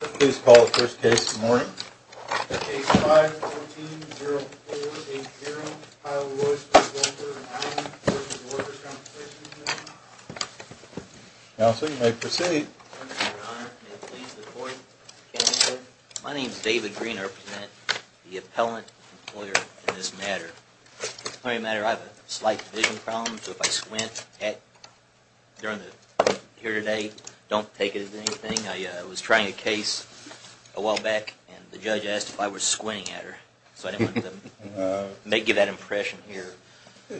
Please call the first case this morning. Case 5-14-0-4-8-0. Heil, Royster, Voelker & Allen v. Workers' Compensation Comm'n. Counsel, you may proceed. Thank you, your honor. May it please the court. My name is David Green. I represent the appellant employer in this matter. In this matter, I have a slight division problem. So if I squint during the hearing today, don't take it as anything. I was trying a case a while back, and the judge asked if I was squinting at her. So I didn't want to give that impression here.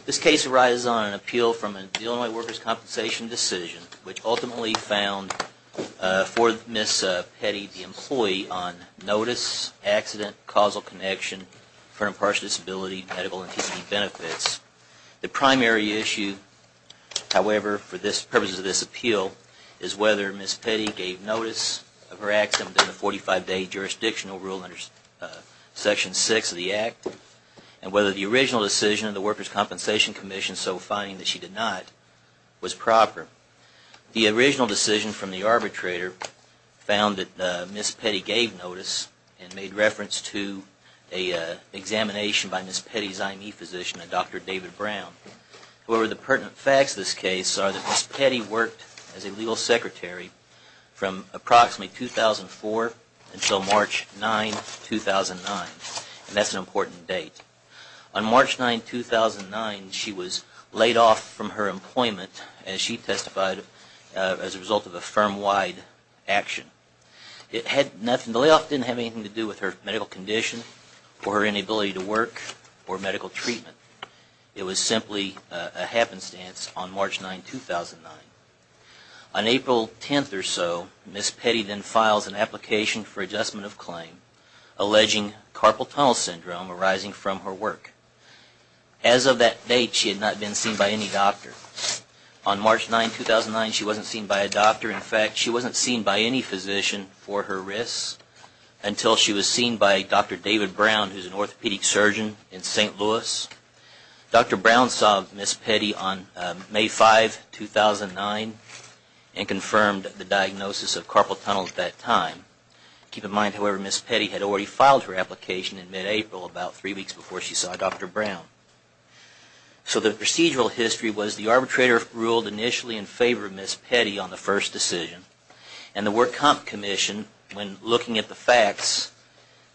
This case arises on an appeal from the Illinois Workers' Compensation decision, which ultimately found for Ms. Petty, the employee, on notice, accident, causal connection, for impartial disability, medical, and physical benefits. The primary issue, however, for purposes of this appeal, is whether Ms. Petty gave notice of her accident under the 45-day jurisdictional rule under Section 6 of the Act, and whether the original decision of the Workers' Compensation Commission, so finding that she did not, was proper. The original decision from the arbitrator found that Ms. Petty gave notice and made reference to an examination by Ms. Petty's IME physician, Dr. David Brown. However, the pertinent facts of this case are that Ms. Petty worked as a legal secretary from approximately 2004 until March 9, 2009. And that's an important date. On March 9, 2009, she was laid off from her employment, as she testified, as a result of a firm-wide action. The layoff didn't have anything to do with her medical condition, or her inability to work, or medical treatment. It was simply a happenstance on March 9, 2009. On April 10th or so, Ms. Petty then files an application for adjustment of claim, alleging carpal tunnel syndrome arising from her work. As of that date, she had not been seen by any doctor. In fact, she wasn't seen by any physician for her risks, until she was seen by Dr. David Brown, who's an orthopedic surgeon in St. Louis. Dr. Brown saw Ms. Petty on May 5, 2009, and confirmed the diagnosis of carpal tunnel at that time. Keep in mind, however, Ms. Petty had already filed her application in mid-April, about three weeks before she saw Dr. Brown. So the procedural history was, the arbitrator ruled initially in favor of Ms. Petty on the first decision. And the work comp commission, when looking at the facts,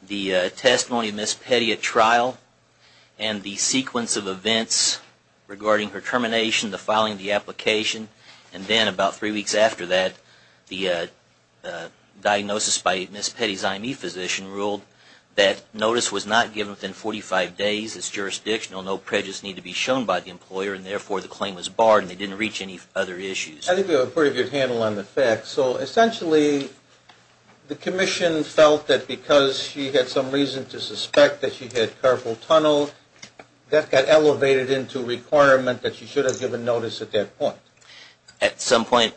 the testimony of Ms. Petty at trial, and the sequence of events regarding her termination, the filing of the application, and then about three weeks after that, the diagnosis by Ms. Petty's IME physician ruled that notice was not given within 45 days, it's jurisdictional, no prejudice need to be shown by the employer, and therefore the claim was barred, and they didn't reach any other issues. I think we have a pretty good handle on the facts. So essentially, the commission felt that because she had some reason to suspect that she had carpal tunnel, that got elevated into requirement that she should have given notice at that point. At some point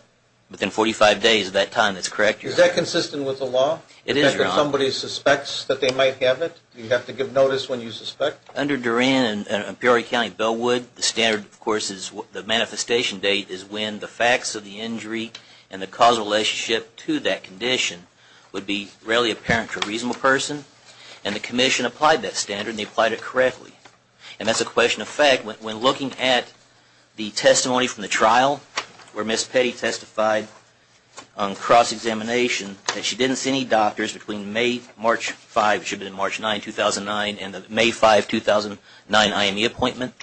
within 45 days of that time, that's correct. Is that consistent with the law? It is, Your Honor. Somebody suspects that they might have it? You have to give notice when you suspect? Under Duran and Peoria County, Bellwood, the standard, of course, is the manifestation date is when the facts of the injury and the causal relationship to that condition would be really apparent to a reasonable person. And the commission applied that standard, and they applied it correctly. And that's a question of fact. When looking at the testimony from the trial, where Ms. Petty testified on cross-examination, that she didn't see any doctors between May 5, 2009 and the May 5, 2009 IME appointment.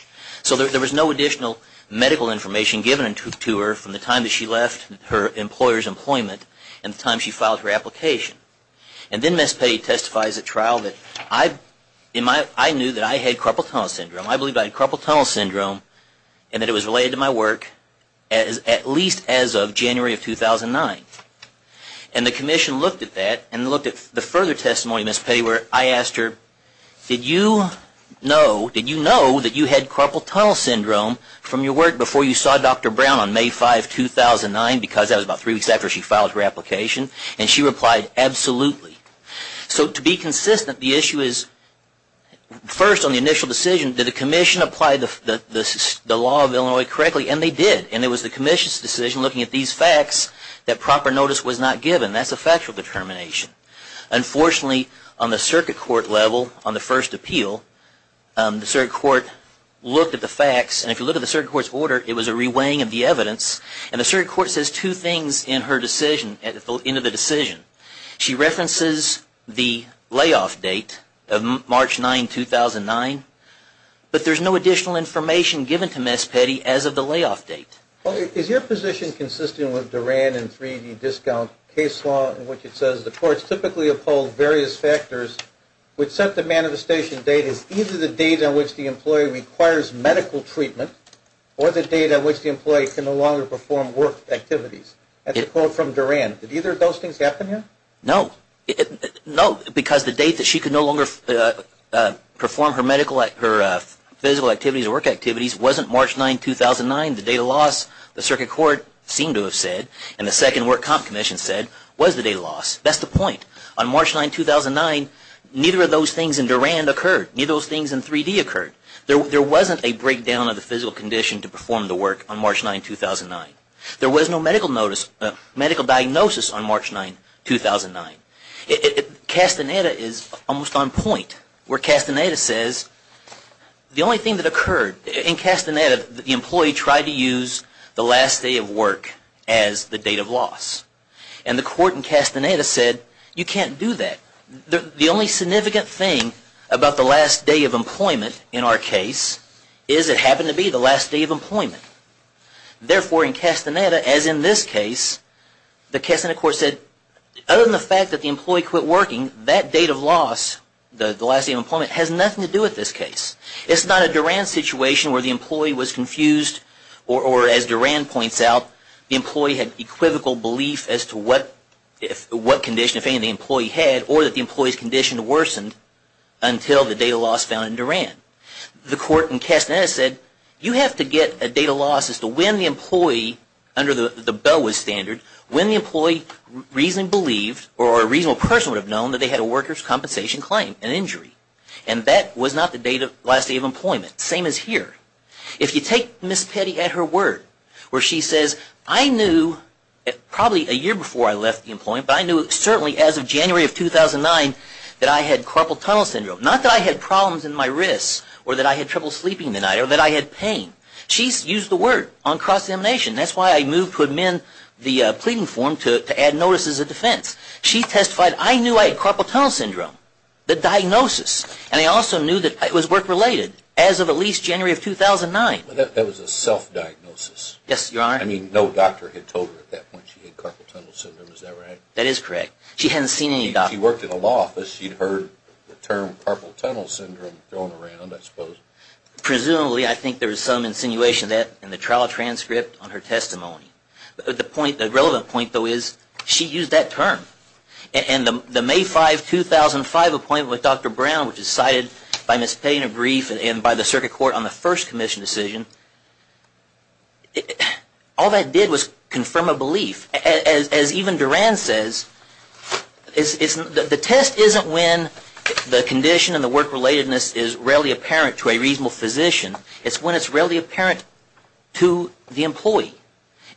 So there was no additional medical information given to her from the time that she left her employer's employment and the time she filed her application. And then Ms. Petty testifies at trial that, I knew that I had carpal tunnel syndrome. I believed I had carpal tunnel syndrome, and that it was related to my work, at least as of January of 2009. And the commission looked at that, and looked at the further testimony, Ms. Petty, where I asked her, did you know, did you know that you had carpal tunnel syndrome from your work before you saw Dr. Brown on May 5, 2009? Because that was about three weeks after she filed her application. And she replied, absolutely. So to be consistent, the issue is, first on the initial decision, did the commission apply the law of Illinois correctly? And they did. And it was the commission's decision, looking at these facts, that proper notice was not given. That's a factual determination. Unfortunately, on the circuit court level, on the first appeal, the circuit court looked at the facts, and if you look at the circuit court's order, it was a re-weighing of the evidence. And the circuit court says two things in her decision, at the end of the decision. She references the layoff date of March 9, 2009, but there's no additional information given to Ms. Petty as of the layoff date. Is your position consistent with Duran and 3D discount case law, in which it says the courts typically uphold various factors which set the manifestation date as either the date on which the employee requires medical treatment or the date on which the employee can no longer perform work activities? That's a quote from Duran. Did either of those things happen here? No. No, because the date that she could no longer perform her physical activities or work activities wasn't March 9, 2009. The date of loss, the circuit court seemed to have said, and the Second Work Comp Commission said, was the date of loss. That's the point. On March 9, 2009, neither of those things in Duran occurred. Neither of those things in 3D occurred. There wasn't a breakdown of the physical condition to perform the work on March 9, 2009. There was no medical diagnosis on March 9, 2009. Castaneda is almost on point, where Castaneda says, the only thing that occurred, in Castaneda, the employee tried to use the last day of work as the date of loss. And the court in Castaneda said, you can't do that. The only significant thing about the last day of employment in our case, is it happened to be the last day of employment. Therefore, in Castaneda, as in this case, the Castaneda court said, other than the fact that the employee quit working, that date of loss, the last day of employment, has nothing to do with this case. It's not a Duran situation where the employee was confused, or as Duran points out, the employee had equivocal belief as to what condition, if any, the employee had, or that the employee's condition worsened, until the date of loss found in Duran. The court in Castaneda said, you have to get a date of loss as to when the employee, under the BOA standard, when the employee reasonably believed, or a reasonable person would have known, that they had a workers' compensation claim, an injury. And that was not the last day of employment. Same as here. If you take Ms. Petty at her word, where she says, I knew, probably a year before I left the employment, but I knew certainly as of January of 2009, that I had carpal tunnel syndrome. Not that I had problems in my wrists, or that I had trouble sleeping the night, or that I had pain. She's used the word on cross-examination. That's why I moved to amend the pleading form to add notices of defense. She testified, I knew I had carpal tunnel syndrome. The diagnosis. And I also knew that it was work-related, as of at least January of 2009. That was a self-diagnosis. Yes, Your Honor. I mean, no doctor had told her at that point, she had carpal tunnel syndrome. Is that right? That is correct. She hadn't seen any doctor. If she worked in a law office, she'd heard the term, carpal tunnel syndrome, thrown around, I suppose. Presumably, I think there was some insinuation that, in the trial transcript, on her testimony. The point, the relevant point, though, is, she used that term. And the May 5, 2005, appointment with Dr. Brown, which is cited by Ms. Payne and Brief, and by the circuit court on the first commission decision, all that did was confirm a belief. As even Duran says, the test isn't when the condition and the work-relatedness is rarely apparent to a reasonable physician. It's when it's rarely apparent to the employee.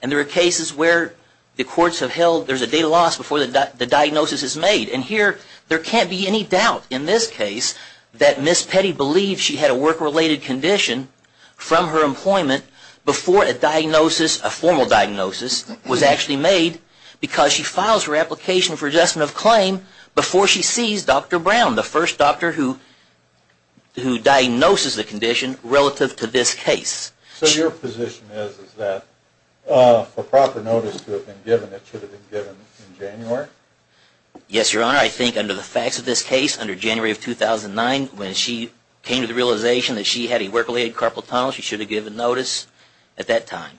And there are cases where the courts have held there's a data loss before the diagnosis is made. And here, there can't be any doubt, in this case, that Ms. Petty believed she had a work-related condition from her employment before a diagnosis, a formal diagnosis, was actually made, because she files her application for adjustment of claim before she sees Dr. Brown, the first doctor who diagnoses the condition relative to this case. So your position is that for proper notice to have been given, it should have been given in January? Yes, Your Honor. I think under the facts of this case, under January of 2009, when she came to the realization that she had a work-related carpal tunnel, she should have given notice at that time.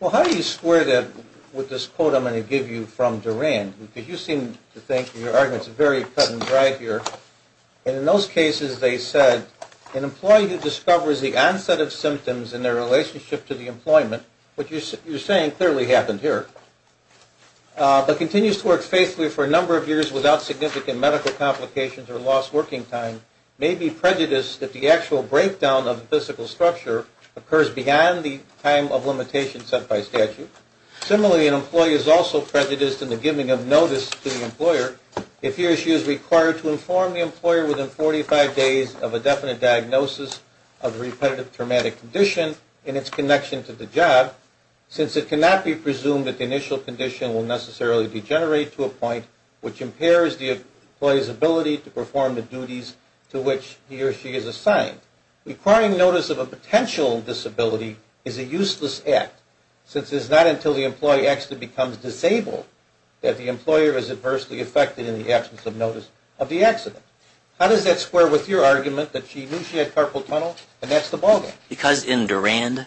Well, how do you square that with this quote I'm going to give you from Duran? Because you seem to think, and your argument's very cut and dry here, and in those cases they said, an employee who discovers the onset of symptoms in their relationship to the employment, which you're saying clearly happened here, but continues to work faithfully for a number of years without significant medical complications or lost working time, may be prejudiced that the actual breakdown of the physical structure occurs beyond the time of limitation set by statute. Similarly, an employee is also prejudiced in the giving of notice to the employer if he or she is required to inform the employer within 45 days of a definite diagnosis of a repetitive traumatic condition in its connection to the job, since it cannot be presumed that the initial condition will necessarily degenerate to a point which impairs the employee's ability to perform the duties to which he or she is assigned. Requiring notice of a potential disability is a useless act, since it's not until the employee actually becomes disabled that the employer is adversely affected in the absence of notice of the accident. How does that square with your argument that she knew she had carpal tunnel, and that's the ballgame? Because in Durand,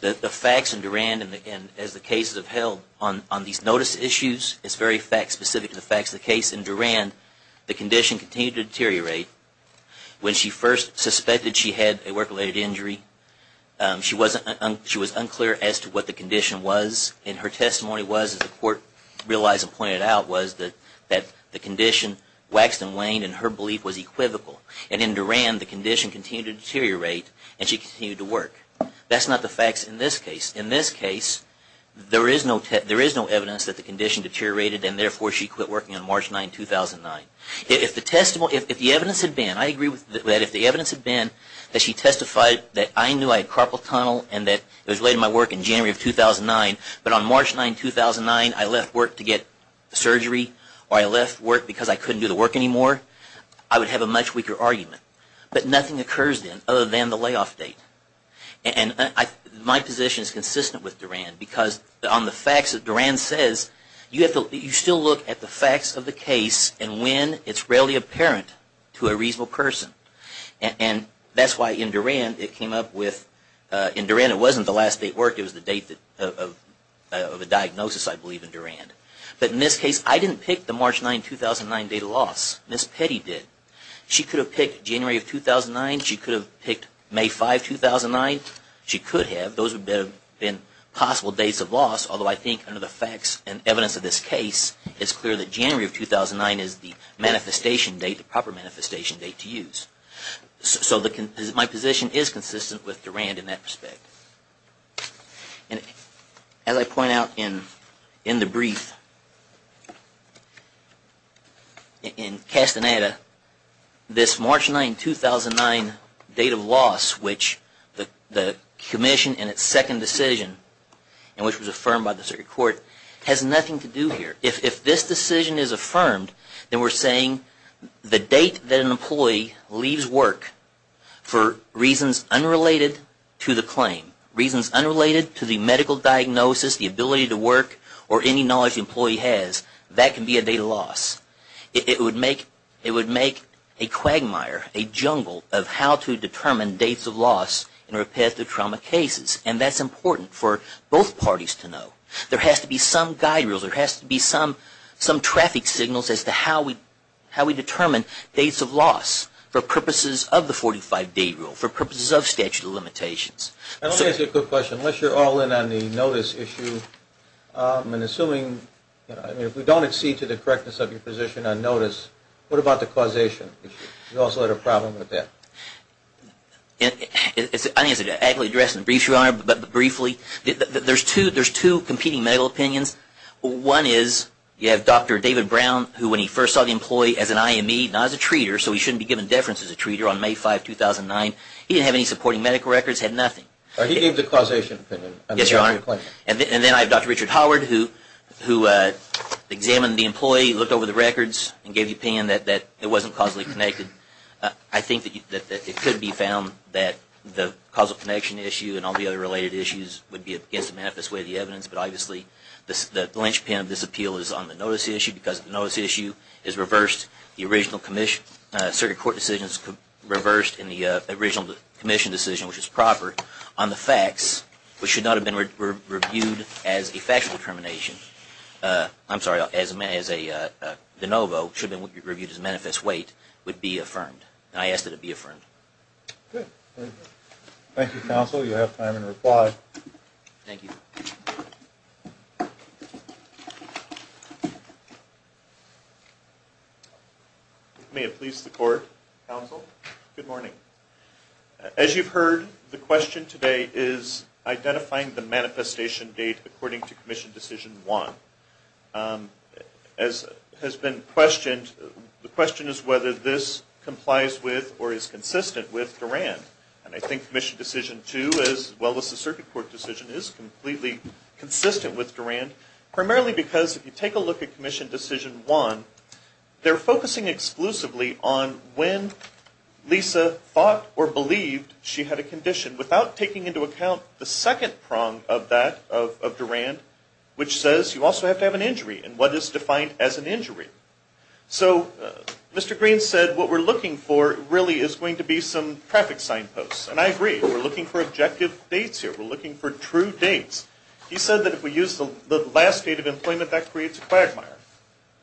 the facts in Durand, and as the cases have held on these notice issues, it's very fact-specific to the facts of the case. In Durand, the condition continued to deteriorate. When she first suspected she had a work-related injury, she was unclear as to what the condition was, and her testimony was, as the court realized and pointed out, was that the condition waxed and waned, and her belief was equivocal. And in Durand, the condition continued to deteriorate, and she continued to work. That's not the facts in this case. In this case, there is no evidence that the condition deteriorated, and therefore she quit working on March 9, 2009. If the evidence had been, I agree with that, if the evidence had been that she testified that I knew I had carpal tunnel, and that it was related to my work in January of 2009, but on March 9, 2009, I left work to get surgery, or I left work because I couldn't do the work anymore, I would have a much weaker argument. But nothing occurs then, other than the layoff date. And my position is consistent with Durand, because on the facts that Durand says, you still look at the facts of the case, and when it's really apparent to a reasonable person. And that's why in Durand, it came up with, in Durand it wasn't the last date worked, it was the date of a diagnosis, I believe, in Durand. But in this case, I didn't pick the March 9, 2009 date of loss. Ms. Petty did. She could have picked January of 2009, she could have picked May 5, 2009, she could have, those would have been possible dates of loss, although I think under the facts and evidence of this case, it's clear that January of 2009 is the manifestation date, the proper manifestation date to use. So my position is consistent with Durand in that respect. And as I point out in the brief, in Castaneda, this March 9, 2009 date of loss, which the commission in its second decision, and which was affirmed by the circuit court, has nothing to do here. If this decision is affirmed, then we're saying the date that an employee leaves work for reasons unrelated to the claim, reasons unrelated to the medical diagnosis, the ability to work, or any knowledge the employee has, that can be a date of loss. It would make a quagmire, a jungle of how to determine dates of loss in repetitive trauma cases, and that's important for both parties to know. There has to be some guide rule, there has to be some traffic signals as to how we determine dates of loss for purposes of the 45-day rule, for purposes of statute of limitations. Let me ask you a quick question. Unless you're all in on the notice issue, I'm assuming if we don't accede to the correctness of your position on notice, what about the causation issue? You also had a problem with that. I think it's an agile address in the brief, Your Honor, but briefly, there's two competing medical opinions. One is you have Dr. David Brown, who when he first saw the employee as an IME, not as a treater, so he shouldn't be given deference as a treater, on May 5, 2009. He didn't have any supporting medical records, had nothing. He gave the causation opinion. Yes, Your Honor. And then I have Dr. Richard Howard, who examined the employee, looked over the records, and gave the opinion that it wasn't causally connected. I think that it could be found that the causal connection issue and all the other related issues would be against the manifest weight of the evidence, but obviously the linchpin of this appeal is on the notice issue because the notice issue is reversed. The original circuit court decisions reversed in the original commission decision, which is proper, on the facts, which should not have been reviewed as a factual determination. I'm sorry, as a de novo, should have been reviewed as a manifest weight, would be affirmed. And I ask that it be affirmed. Good. Thank you, counsel. You have time to reply. Thank you. If it may have pleased the court, counsel, good morning. As you've heard, the question today is identifying the manifestation date according to commission decision one. As has been questioned, the question is whether this complies with or is consistent with Durand. And I think commission decision two, as well as the circuit court decision, is completely consistent with Durand, primarily because if you take a look at commission decision one, they're focusing exclusively on when Lisa thought or believed she had a condition without taking into account the second prong of that, of Durand, which says you also have to have an injury and what is defined as an injury. So Mr. Green said what we're looking for really is going to be some traffic sign posts. And I agree. We're looking for objective dates here. We're looking for true dates. He said that if we use the last date of employment, that creates a quagmire.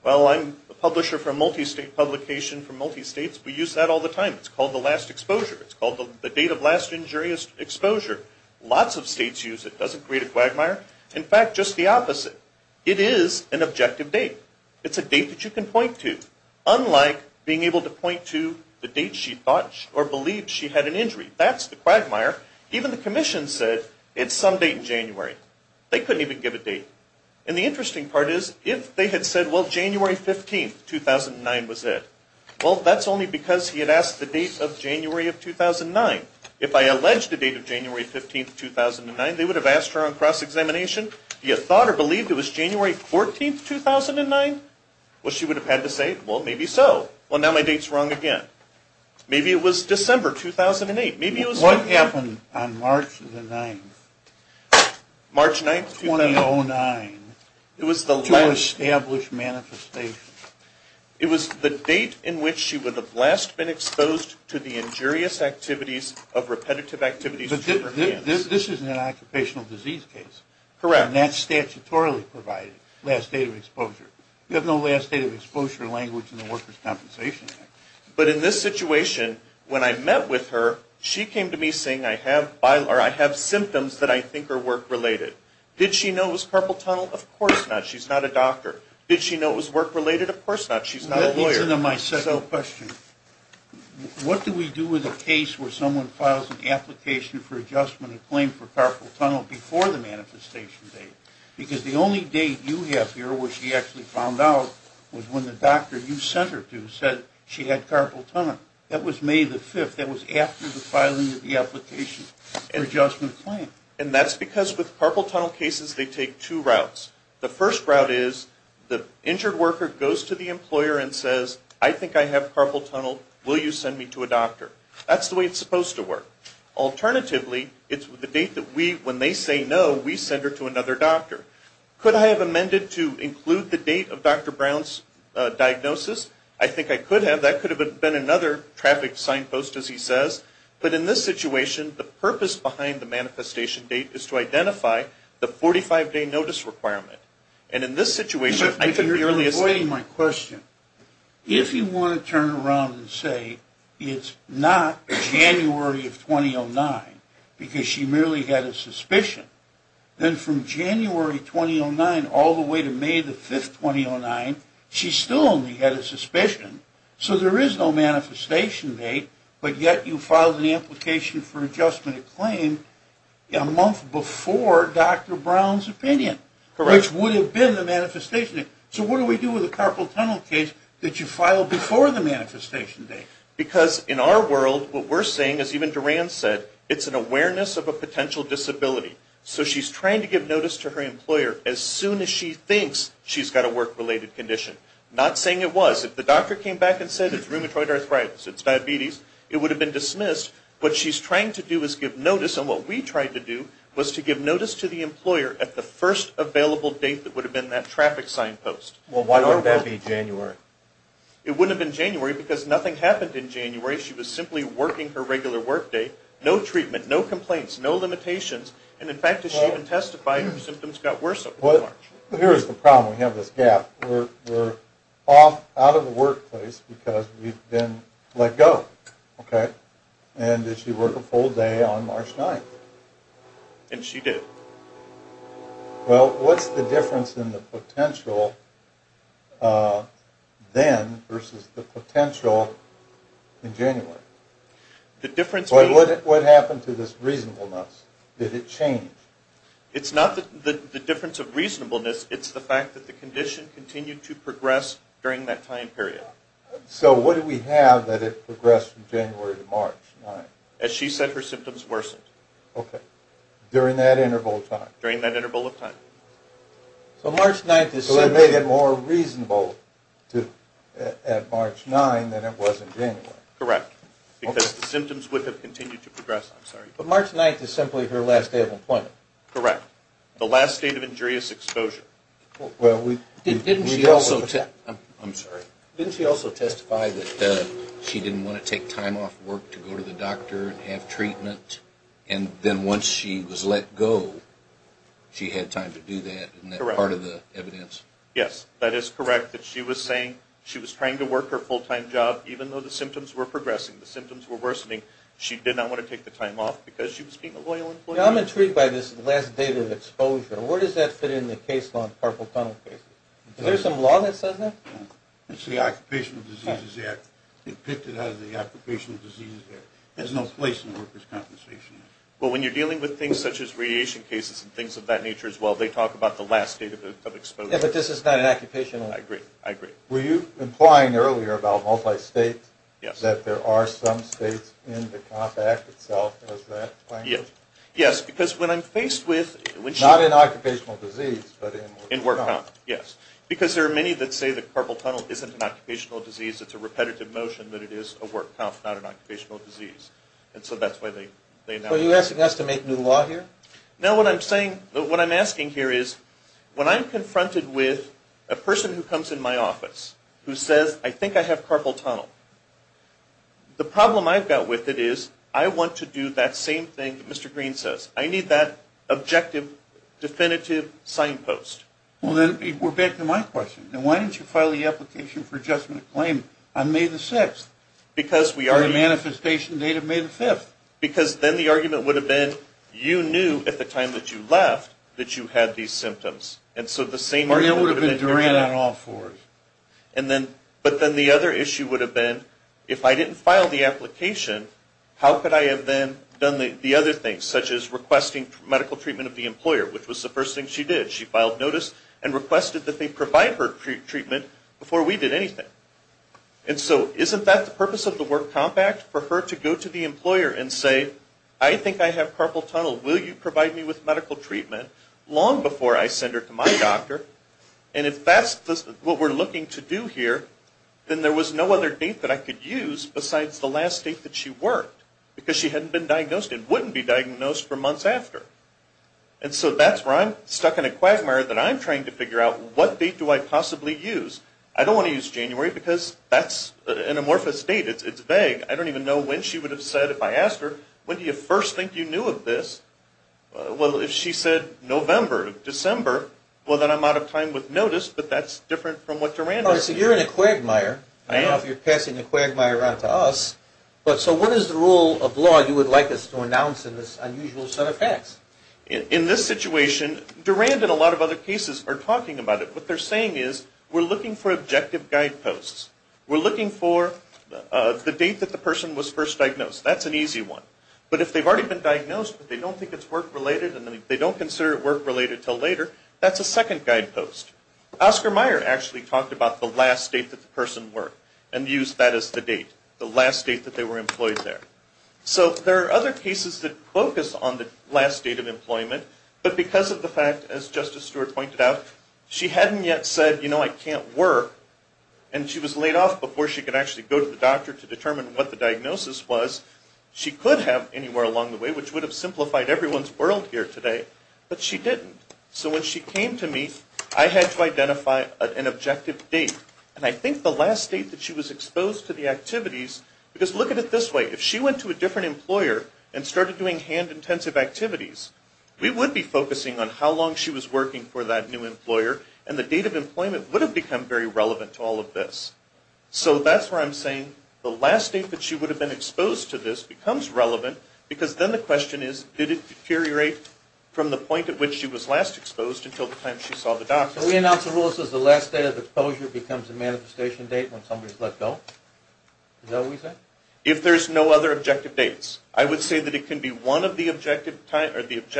Well, I'm a publisher for a multi-state publication for multi-states. We use that all the time. It's called the last exposure. It's called the date of last injury exposure. Lots of states use it. It doesn't create a quagmire. In fact, just the opposite. It is an objective date. It's a date that you can point to, unlike being able to point to the date she thought or believed she had an injury. That's the quagmire. Even the commission said it's some date in January. They couldn't even give a date. And the interesting part is if they had said, well, January 15, 2009 was it, well, that's only because he had asked the date of January of 2009. If I alleged the date of January 15, 2009, they would have asked her on cross-examination, do you thought or believe it was January 14, 2009? Well, she would have had to say, well, maybe so. Well, now my date's wrong again. Maybe it was December 2008. Maybe it was... What happened on March the 9th? March 9th, 2009. To establish manifestation. It was the date in which she would have last been exposed to the injurious activities of repetitive activities. This is an occupational disease case. Correct. And that's statutorily provided, last date of exposure. You have no last date of exposure language in the Workers' Compensation Act. But in this situation, when I met with her, she came to me saying, I have symptoms that I think are work-related. Did she know it was carpal tunnel? Of course not. She's not a doctor. Did she know it was work-related? Of course not. She's not a lawyer. That leads into my second question. What do we do with a case where someone files an application for adjustment of claim for carpal tunnel before the manifestation date? Because the only date you have here, which she actually found out, was when the doctor you sent her to said she had carpal tunnel. That was May the 5th. That was after the filing of the application for adjustment of claim. And that's because with carpal tunnel cases, they take two routes. The first route is, the injured worker goes to the employer and says, I think I have carpal tunnel. Will you send me to a doctor? That's the way it's supposed to work. Alternatively, it's the date that we, when they say no, we send her to another doctor. Could I have amended to include the date of Dr. Brown's diagnosis? I think I could have. That could have been another traffic signpost, as he says. But in this situation, the purpose behind the manifestation date is to identify the 45-day notice requirement. And in this situation, I could merely assume... You're avoiding my question. If you want to turn around and say, it's not January of 2009, because she merely had a suspicion, then from January 2009 all the way to May 5, 2009, she still only had a suspicion. So there is no manifestation date, but yet you filed an application for adjustment of claim a month before Dr. Brown's opinion, which would have been the manifestation date. So what do we do with a carpal tunnel case that you filed before the manifestation date? Because in our world, what we're saying, as even Duran said, it's an awareness of a potential disability. So she's trying to give notice to her employer as soon as she thinks she's got a work-related condition. Not saying it was. If the doctor came back and said, it's rheumatoid arthritis, it's diabetes, it would have been dismissed. What she's trying to do is give notice, and what we tried to do was to give notice to the employer at the first available date that would have been that traffic sign post. Well, why wouldn't that be January? It wouldn't have been January because nothing happened in January. She was simply working her regular workday. No treatment, no complaints, no limitations. And in fact, as she even testified, her symptoms got worse over March. Here's the problem. We have this gap. We're off out of the workplace because we've been let go, okay? And did she work a full day on March 9th? And she did. Well, what's the difference in the potential then versus the potential in January? What happened to this reasonableness? Did it change? It's not the difference of reasonableness. It's the fact that the condition continued to progress during that time period. So what do we have that it progressed from January to March 9th? As she said, her symptoms worsened. Okay. During that interval of time? During that interval of time. So March 9th is simply... So it made it more reasonable at March 9 than it was in January. Correct. Because the symptoms would have continued to progress. I'm sorry. But March 9th is simply her last day of employment. Correct. The last day of injurious exposure. Well, didn't she also... I'm sorry. Didn't she also testify that she didn't want to take time off work to go to the doctor and have treatment? And then once she was let go, she had time to do that? Correct. Isn't that part of the evidence? Yes, that is correct. That she was saying she was trying to work her full-time job even though the symptoms were progressing. The symptoms were worsening. She did not want to take the time off because she was being a loyal employee? I'm intrigued by this last day of exposure. Where does that fit in the case law in purple tunnel cases? Is there some law that says that? It's the Occupational Diseases Act. It picked it out of the Occupational Diseases Act. There's no place in workers' compensation. Well, when you're dealing with things such as radiation cases and things of that nature as well, they talk about the last day of exposure. Yes, but this is not an occupational... I agree. I agree. Were you implying earlier about multi-states? Yes. That there are some states in the COMP Act itself? Yes. Yes, because when I'm faced with... Not in occupational disease, but in work COMP. In work COMP, yes. Because there are many that say that carpal tunnel isn't an occupational disease. It's a repetitive motion that it is a work COMP, not an occupational disease. And so that's why they... Are you asking us to make new law here? No, what I'm saying, what I'm asking here is when I'm confronted with a person who comes in my office who says, I think I have carpal tunnel, the problem I've got with it is I want to do that same thing that Mr. Green says. I need that objective, definitive signpost. Well, then we're back to my question. Now, why didn't you file the application for adjustment of claim on May the 6th? Because we already... Or the manifestation date of May the 5th. Because then the argument would have been you knew at the time that you left that you had these symptoms. Or it would have been Duran on all fours. But then the other issue would have been if I didn't file the application, how could I have then done the other things, such as requesting medical treatment of the employer, which was the first thing she did. She filed notice and requested that they provide her treatment before we did anything. And so isn't that the purpose of the work COMP Act? For her to go to the employer and say, I think I have carpal tunnel. Will you provide me with medical treatment long before I send her to my doctor? And if that's what we're looking to do here, then there was no other date that I could use besides the last date that she worked. Because she hadn't been diagnosed and wouldn't be diagnosed for months after. And so that's where I'm stuck in a quagmire that I'm trying to figure out, what date do I possibly use? I don't want to use January because that's an amorphous date. It's vague. I don't even know when she would have said if I asked her, when do you first think you knew of this? Well, if she said November, December, well then I'm out of time with notice, but that's different from what Durand is. So you're in a quagmire. I am. I don't know if you're passing a quagmire onto us. So what is the rule of law you would like us to announce in this unusual set of facts? In this situation, Durand and a lot of other cases are talking about it. What they're saying is we're looking for objective guideposts. We're looking for the date that the person was first diagnosed. That's an easy one. But if they've already been diagnosed but they don't think it's work-related and they don't consider it work-related until later, that's a second guidepost. Oscar Meyer actually talked about the last date that the person worked and used that as the date, the last date that they were employed there. So there are other cases that focus on the last date of employment, but because of the fact, as Justice Stewart pointed out, she hadn't yet said, you know, I can't work, and she was laid off before she could actually go to the doctor to determine what the diagnosis was, she could have anywhere along the way, which would have simplified everyone's world here today, but she didn't. So when she came to me, I had to identify an objective date. And I think the last date that she was exposed to the activities, because look at it this way, if she went to a different employer and started doing hand-intensive activities, we would be focusing on how long she was working for that new employer, and the date of employment would have become very relevant to all of this. So that's where I'm saying the last date that she would have been exposed to this becomes relevant, because then the question is, did it deteriorate from the point at which she was last exposed until the time she saw the doctor? So we announce a rule that says the last date of exposure becomes a manifestation date when somebody's let go? Is that what we say? If there's no other objective dates. I would say that it can be one of the objective factors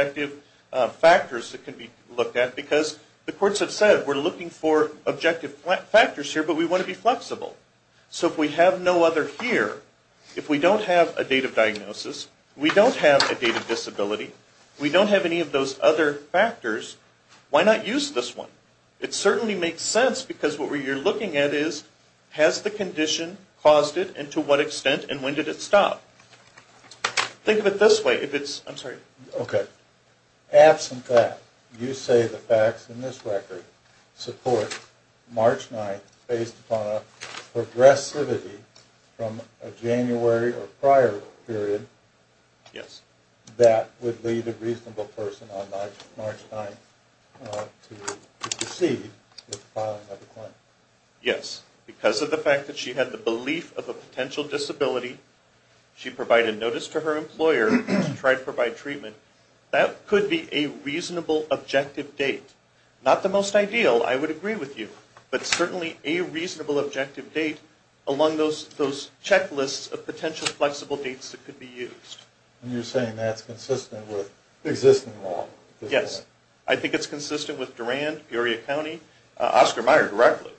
that can be looked at, because the courts have said, we're looking for objective factors here, but we want to be flexible. So if we have no other here, if we don't have a date of diagnosis, we don't have a date of disability, we don't have any of those other factors, why not use this one? It certainly makes sense, because what you're looking at is, has the condition caused it, and to what extent, and when did it stop? Think of it this way. Okay. Absent that, you say the facts in this record support March 9th based upon a progressivity from a January or prior period that would lead a reasonable person on March 9th to proceed with the filing of a claim. Yes. Because of the fact that she had the belief of a potential disability, she provided notice to her employer to try to provide treatment, that could be a reasonable objective date. Not the most ideal, I would agree with you, but certainly a reasonable objective date along those checklists of potential flexible dates that could be used. And you're saying that's consistent with existing law? Yes. I think it's consistent with Durand, Peoria County, Oscar Meyer directly,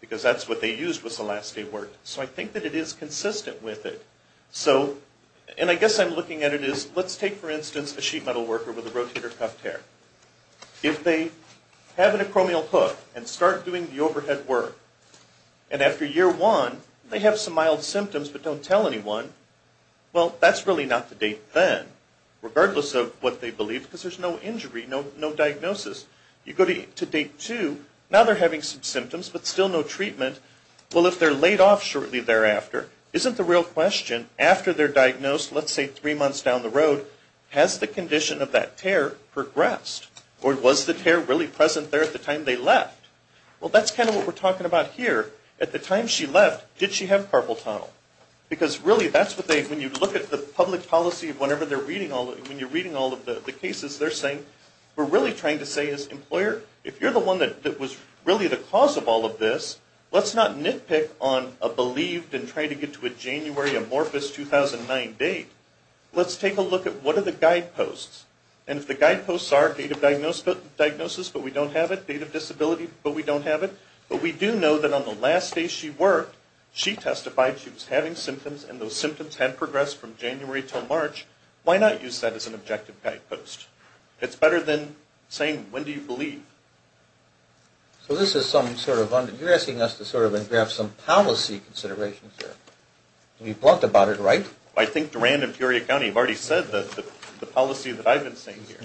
because that's what they used was the last day of work. So I think that it is consistent with it. And I guess I'm looking at it as, let's take, for instance, a sheet metal worker with a rotator cuff tear. If they have an acromial hook and start doing the overhead work, and after year one they have some mild symptoms but don't tell anyone, well, that's really not the date then, regardless of what they believe, because there's no injury, no diagnosis. You go to date two, now they're having some symptoms but still no treatment. Well, if they're laid off shortly thereafter, isn't the real question, after they're diagnosed, let's say three months down the road, has the condition of that tear progressed? Or was the tear really present there at the time they left? Well, that's kind of what we're talking about here. At the time she left, did she have carpal tunnel? Because, really, that's what they, when you look at the public policy, whenever they're reading all of it, when you're reading all of the cases, they're saying, we're really trying to say as an employer, if you're the one that was really the cause of all of this, let's not nitpick on a believed and try to get to a January amorphous 2009 date. Let's take a look at what are the guideposts, and if the guideposts are date of diagnosis but we don't have it, date of disability but we don't have it, but we do know that on the last day she worked, she testified she was having symptoms and those symptoms had progressed from January until March, why not use that as an objective guidepost? It's better than saying, when do you believe? So this is some sort of, you're asking us to sort of engraph some policy considerations here. We've talked about it, right? I think Duran and Peoria County have already said the policy that I've been saying here.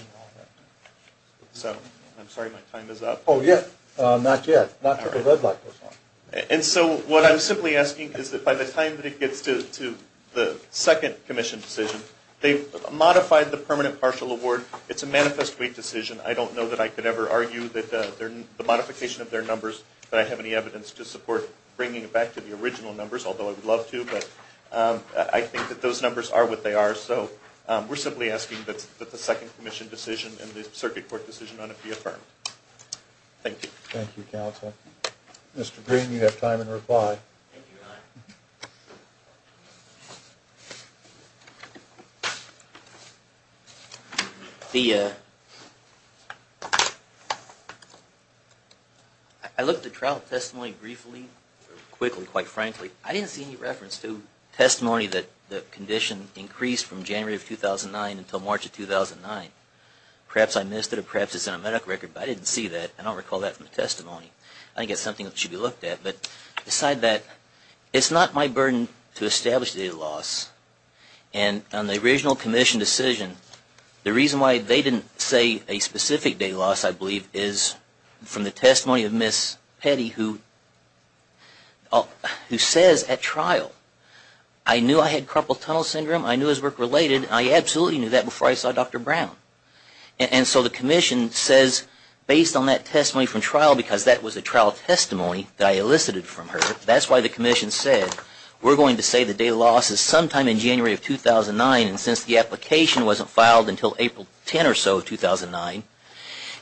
So, I'm sorry, my time is up. Oh, yeah, not yet, not until the red light goes on. And so what I'm simply asking is that by the time it gets to the second commission decision, if they've modified the permanent partial award, it's a manifest wait decision, I don't know that I could ever argue that the modification of their numbers, that I have any evidence to support bringing it back to the original numbers, although I would love to, but I think that those numbers are what they are, so we're simply asking that the second commission decision and the circuit court decision on it be affirmed. Thank you. Thank you, counsel. Mr. Green, you have time in reply. Thank you, John. I looked at trial testimony briefly, quickly, quite frankly. I didn't see any reference to testimony that the condition increased from January of 2009 until March of 2009. Perhaps I missed it or perhaps it's in a medical record, but I didn't see that. I don't recall that from the testimony. I think it's something that should be looked at. It's not my burden to establish data loss, and on the original commission decision, the reason why they didn't say a specific data loss, I believe, is from the testimony of Ms. Petty, who says at trial, I knew I had carpal tunnel syndrome, I knew it was work-related, and I absolutely knew that before I saw Dr. Brown. And so the commission says, based on that testimony from trial, because that was a trial testimony that I elicited from her, that's why the commission said, we're going to say the data loss is sometime in January of 2009, and since the application wasn't filed until April 10 or so of 2009,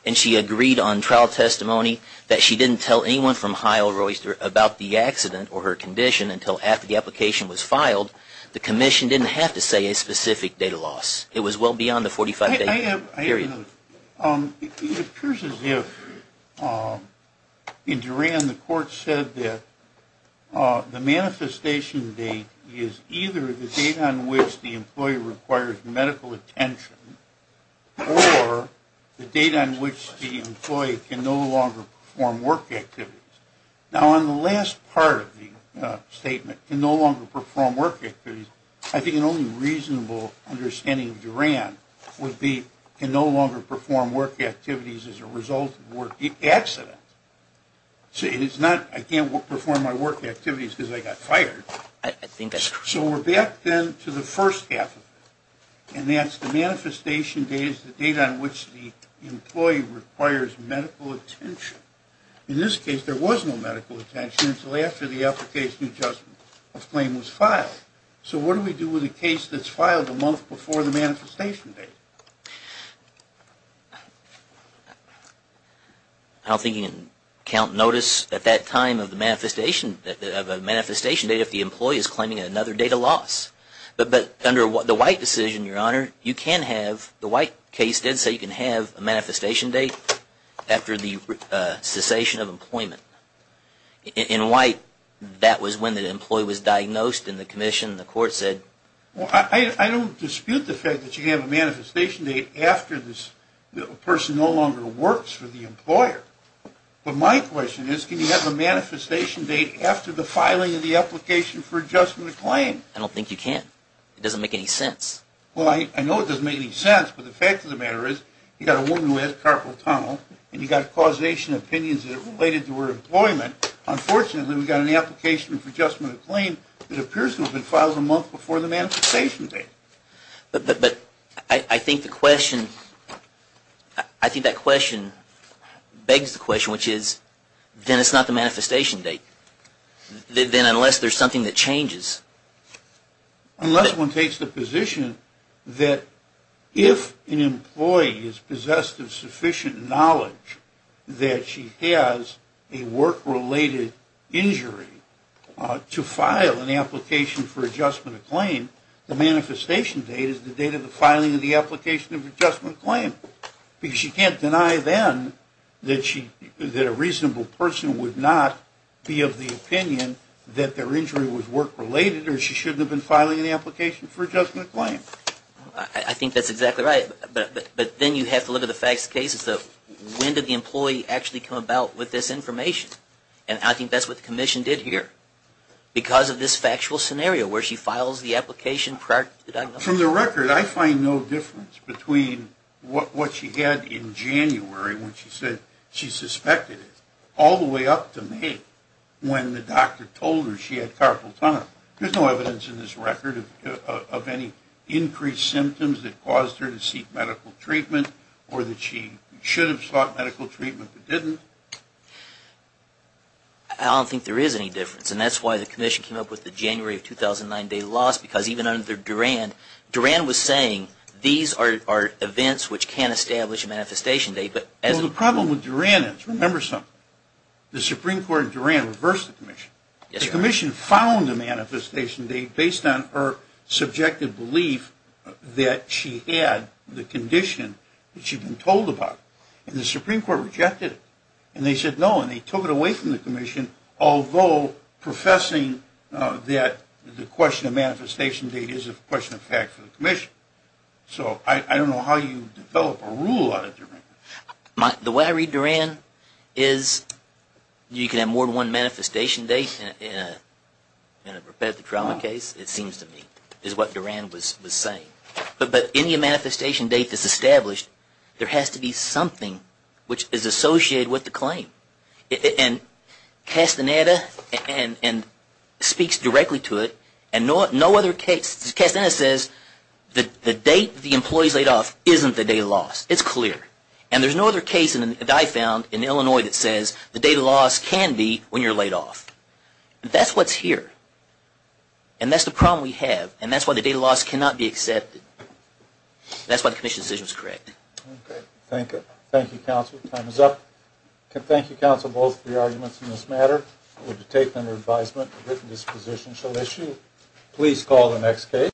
and she agreed on trial testimony that she didn't tell anyone from Heilroyster about the accident or her condition until after the application was filed, the commission didn't have to say a specific data loss. It was well beyond the 45-day period. It appears as if, in Duran, the court said that the manifestation date is either the date on which the employee requires medical attention or the date on which the employee can no longer perform work activities. Now, on the last part of the statement, can no longer perform work activities, I think an only reasonable understanding of Duran would be can no longer perform work activities as a result of accident. So it is not, I can't perform my work activities because I got fired. So we're back then to the first half of it, and that's the manifestation date is the date on which the employee requires medical attention. In this case, there was no medical attention until after the application adjustment claim was filed. So what do we do with a case that's filed a month before the manifestation date? I don't think you can count notice at that time of the manifestation, of a manifestation date if the employee is claiming another data loss. But under the White decision, Your Honor, you can have, the White case did say you can have a manifestation date after the cessation of employment. In White, that was when the employee was diagnosed in the commission, the court said. I don't dispute the fact that you can have a manifestation date after this person no longer works for the employer. But my question is, can you have a manifestation date after the filing of the application for adjustment claim? I don't think you can. It doesn't make any sense. Well, I know it doesn't make any sense, but the fact of the matter is you got a woman who has carpal tunnel, and you got causation opinions that are related to her employment. Unfortunately, we've got an application for adjustment of claim that appears to have been filed a month before the manifestation date. But I think the question, I think that question begs the question, which is then it's not the manifestation date. Then unless there's something that changes. Unless one takes the position that if an employee is possessed of sufficient knowledge that she has a work-related injury to file an application for adjustment of claim, the manifestation date is the date of the filing of the application of adjustment claim. Because you can't deny then that a reasonable person would not be of the opinion that their injury was work-related or she shouldn't have been filing an application for adjustment of claim. I think that's exactly right. But then you have to look at the facts and cases of when did the employee actually come about with this information? And I think that's what the commission did here because of this factual scenario where she files the application prior to the diagnosis. From the record, I find no difference between what she had in January when she said she suspected it all the way up to May when the doctor told her she had carpal tunnel. There's no evidence in this record of any increased symptoms that caused her to seek medical treatment or that she should have sought medical treatment but didn't. I don't think there is any difference. And that's why the commission came up with the January of 2009 date of loss because even under Durand, Durand was saying these are events which can establish a manifestation date. Well, the problem with Durand is, remember something, the Supreme Court and Durand reversed the commission. The commission found a manifestation date based on her subjective belief that she had the condition that she'd been told about. And the Supreme Court rejected it. And they said no and they took it away from the commission, although professing that the question of manifestation date is a question of fact for the commission. So I don't know how you develop a rule out of Durand. The way I read Durand is you can have more than one manifestation date in a repetitive trauma case, it seems to me, is what Durand was saying. But any manifestation date that's established, there has to be something which is associated with the claim. And Castaneda speaks directly to it and no other case. Castaneda says the date the employee is laid off isn't the date of loss. It's clear. And there's no other case that I found in Illinois that says the date of loss can be when you're laid off. That's what's here. And that's the problem we have. And that's why the date of loss cannot be accepted. That's why the commission's decision is correct. Okay. Thank you, counsel. Time is up. Thank you, counsel, both for your arguments in this matter. We'll take them under advisement. The written disposition shall issue. Please call the next case.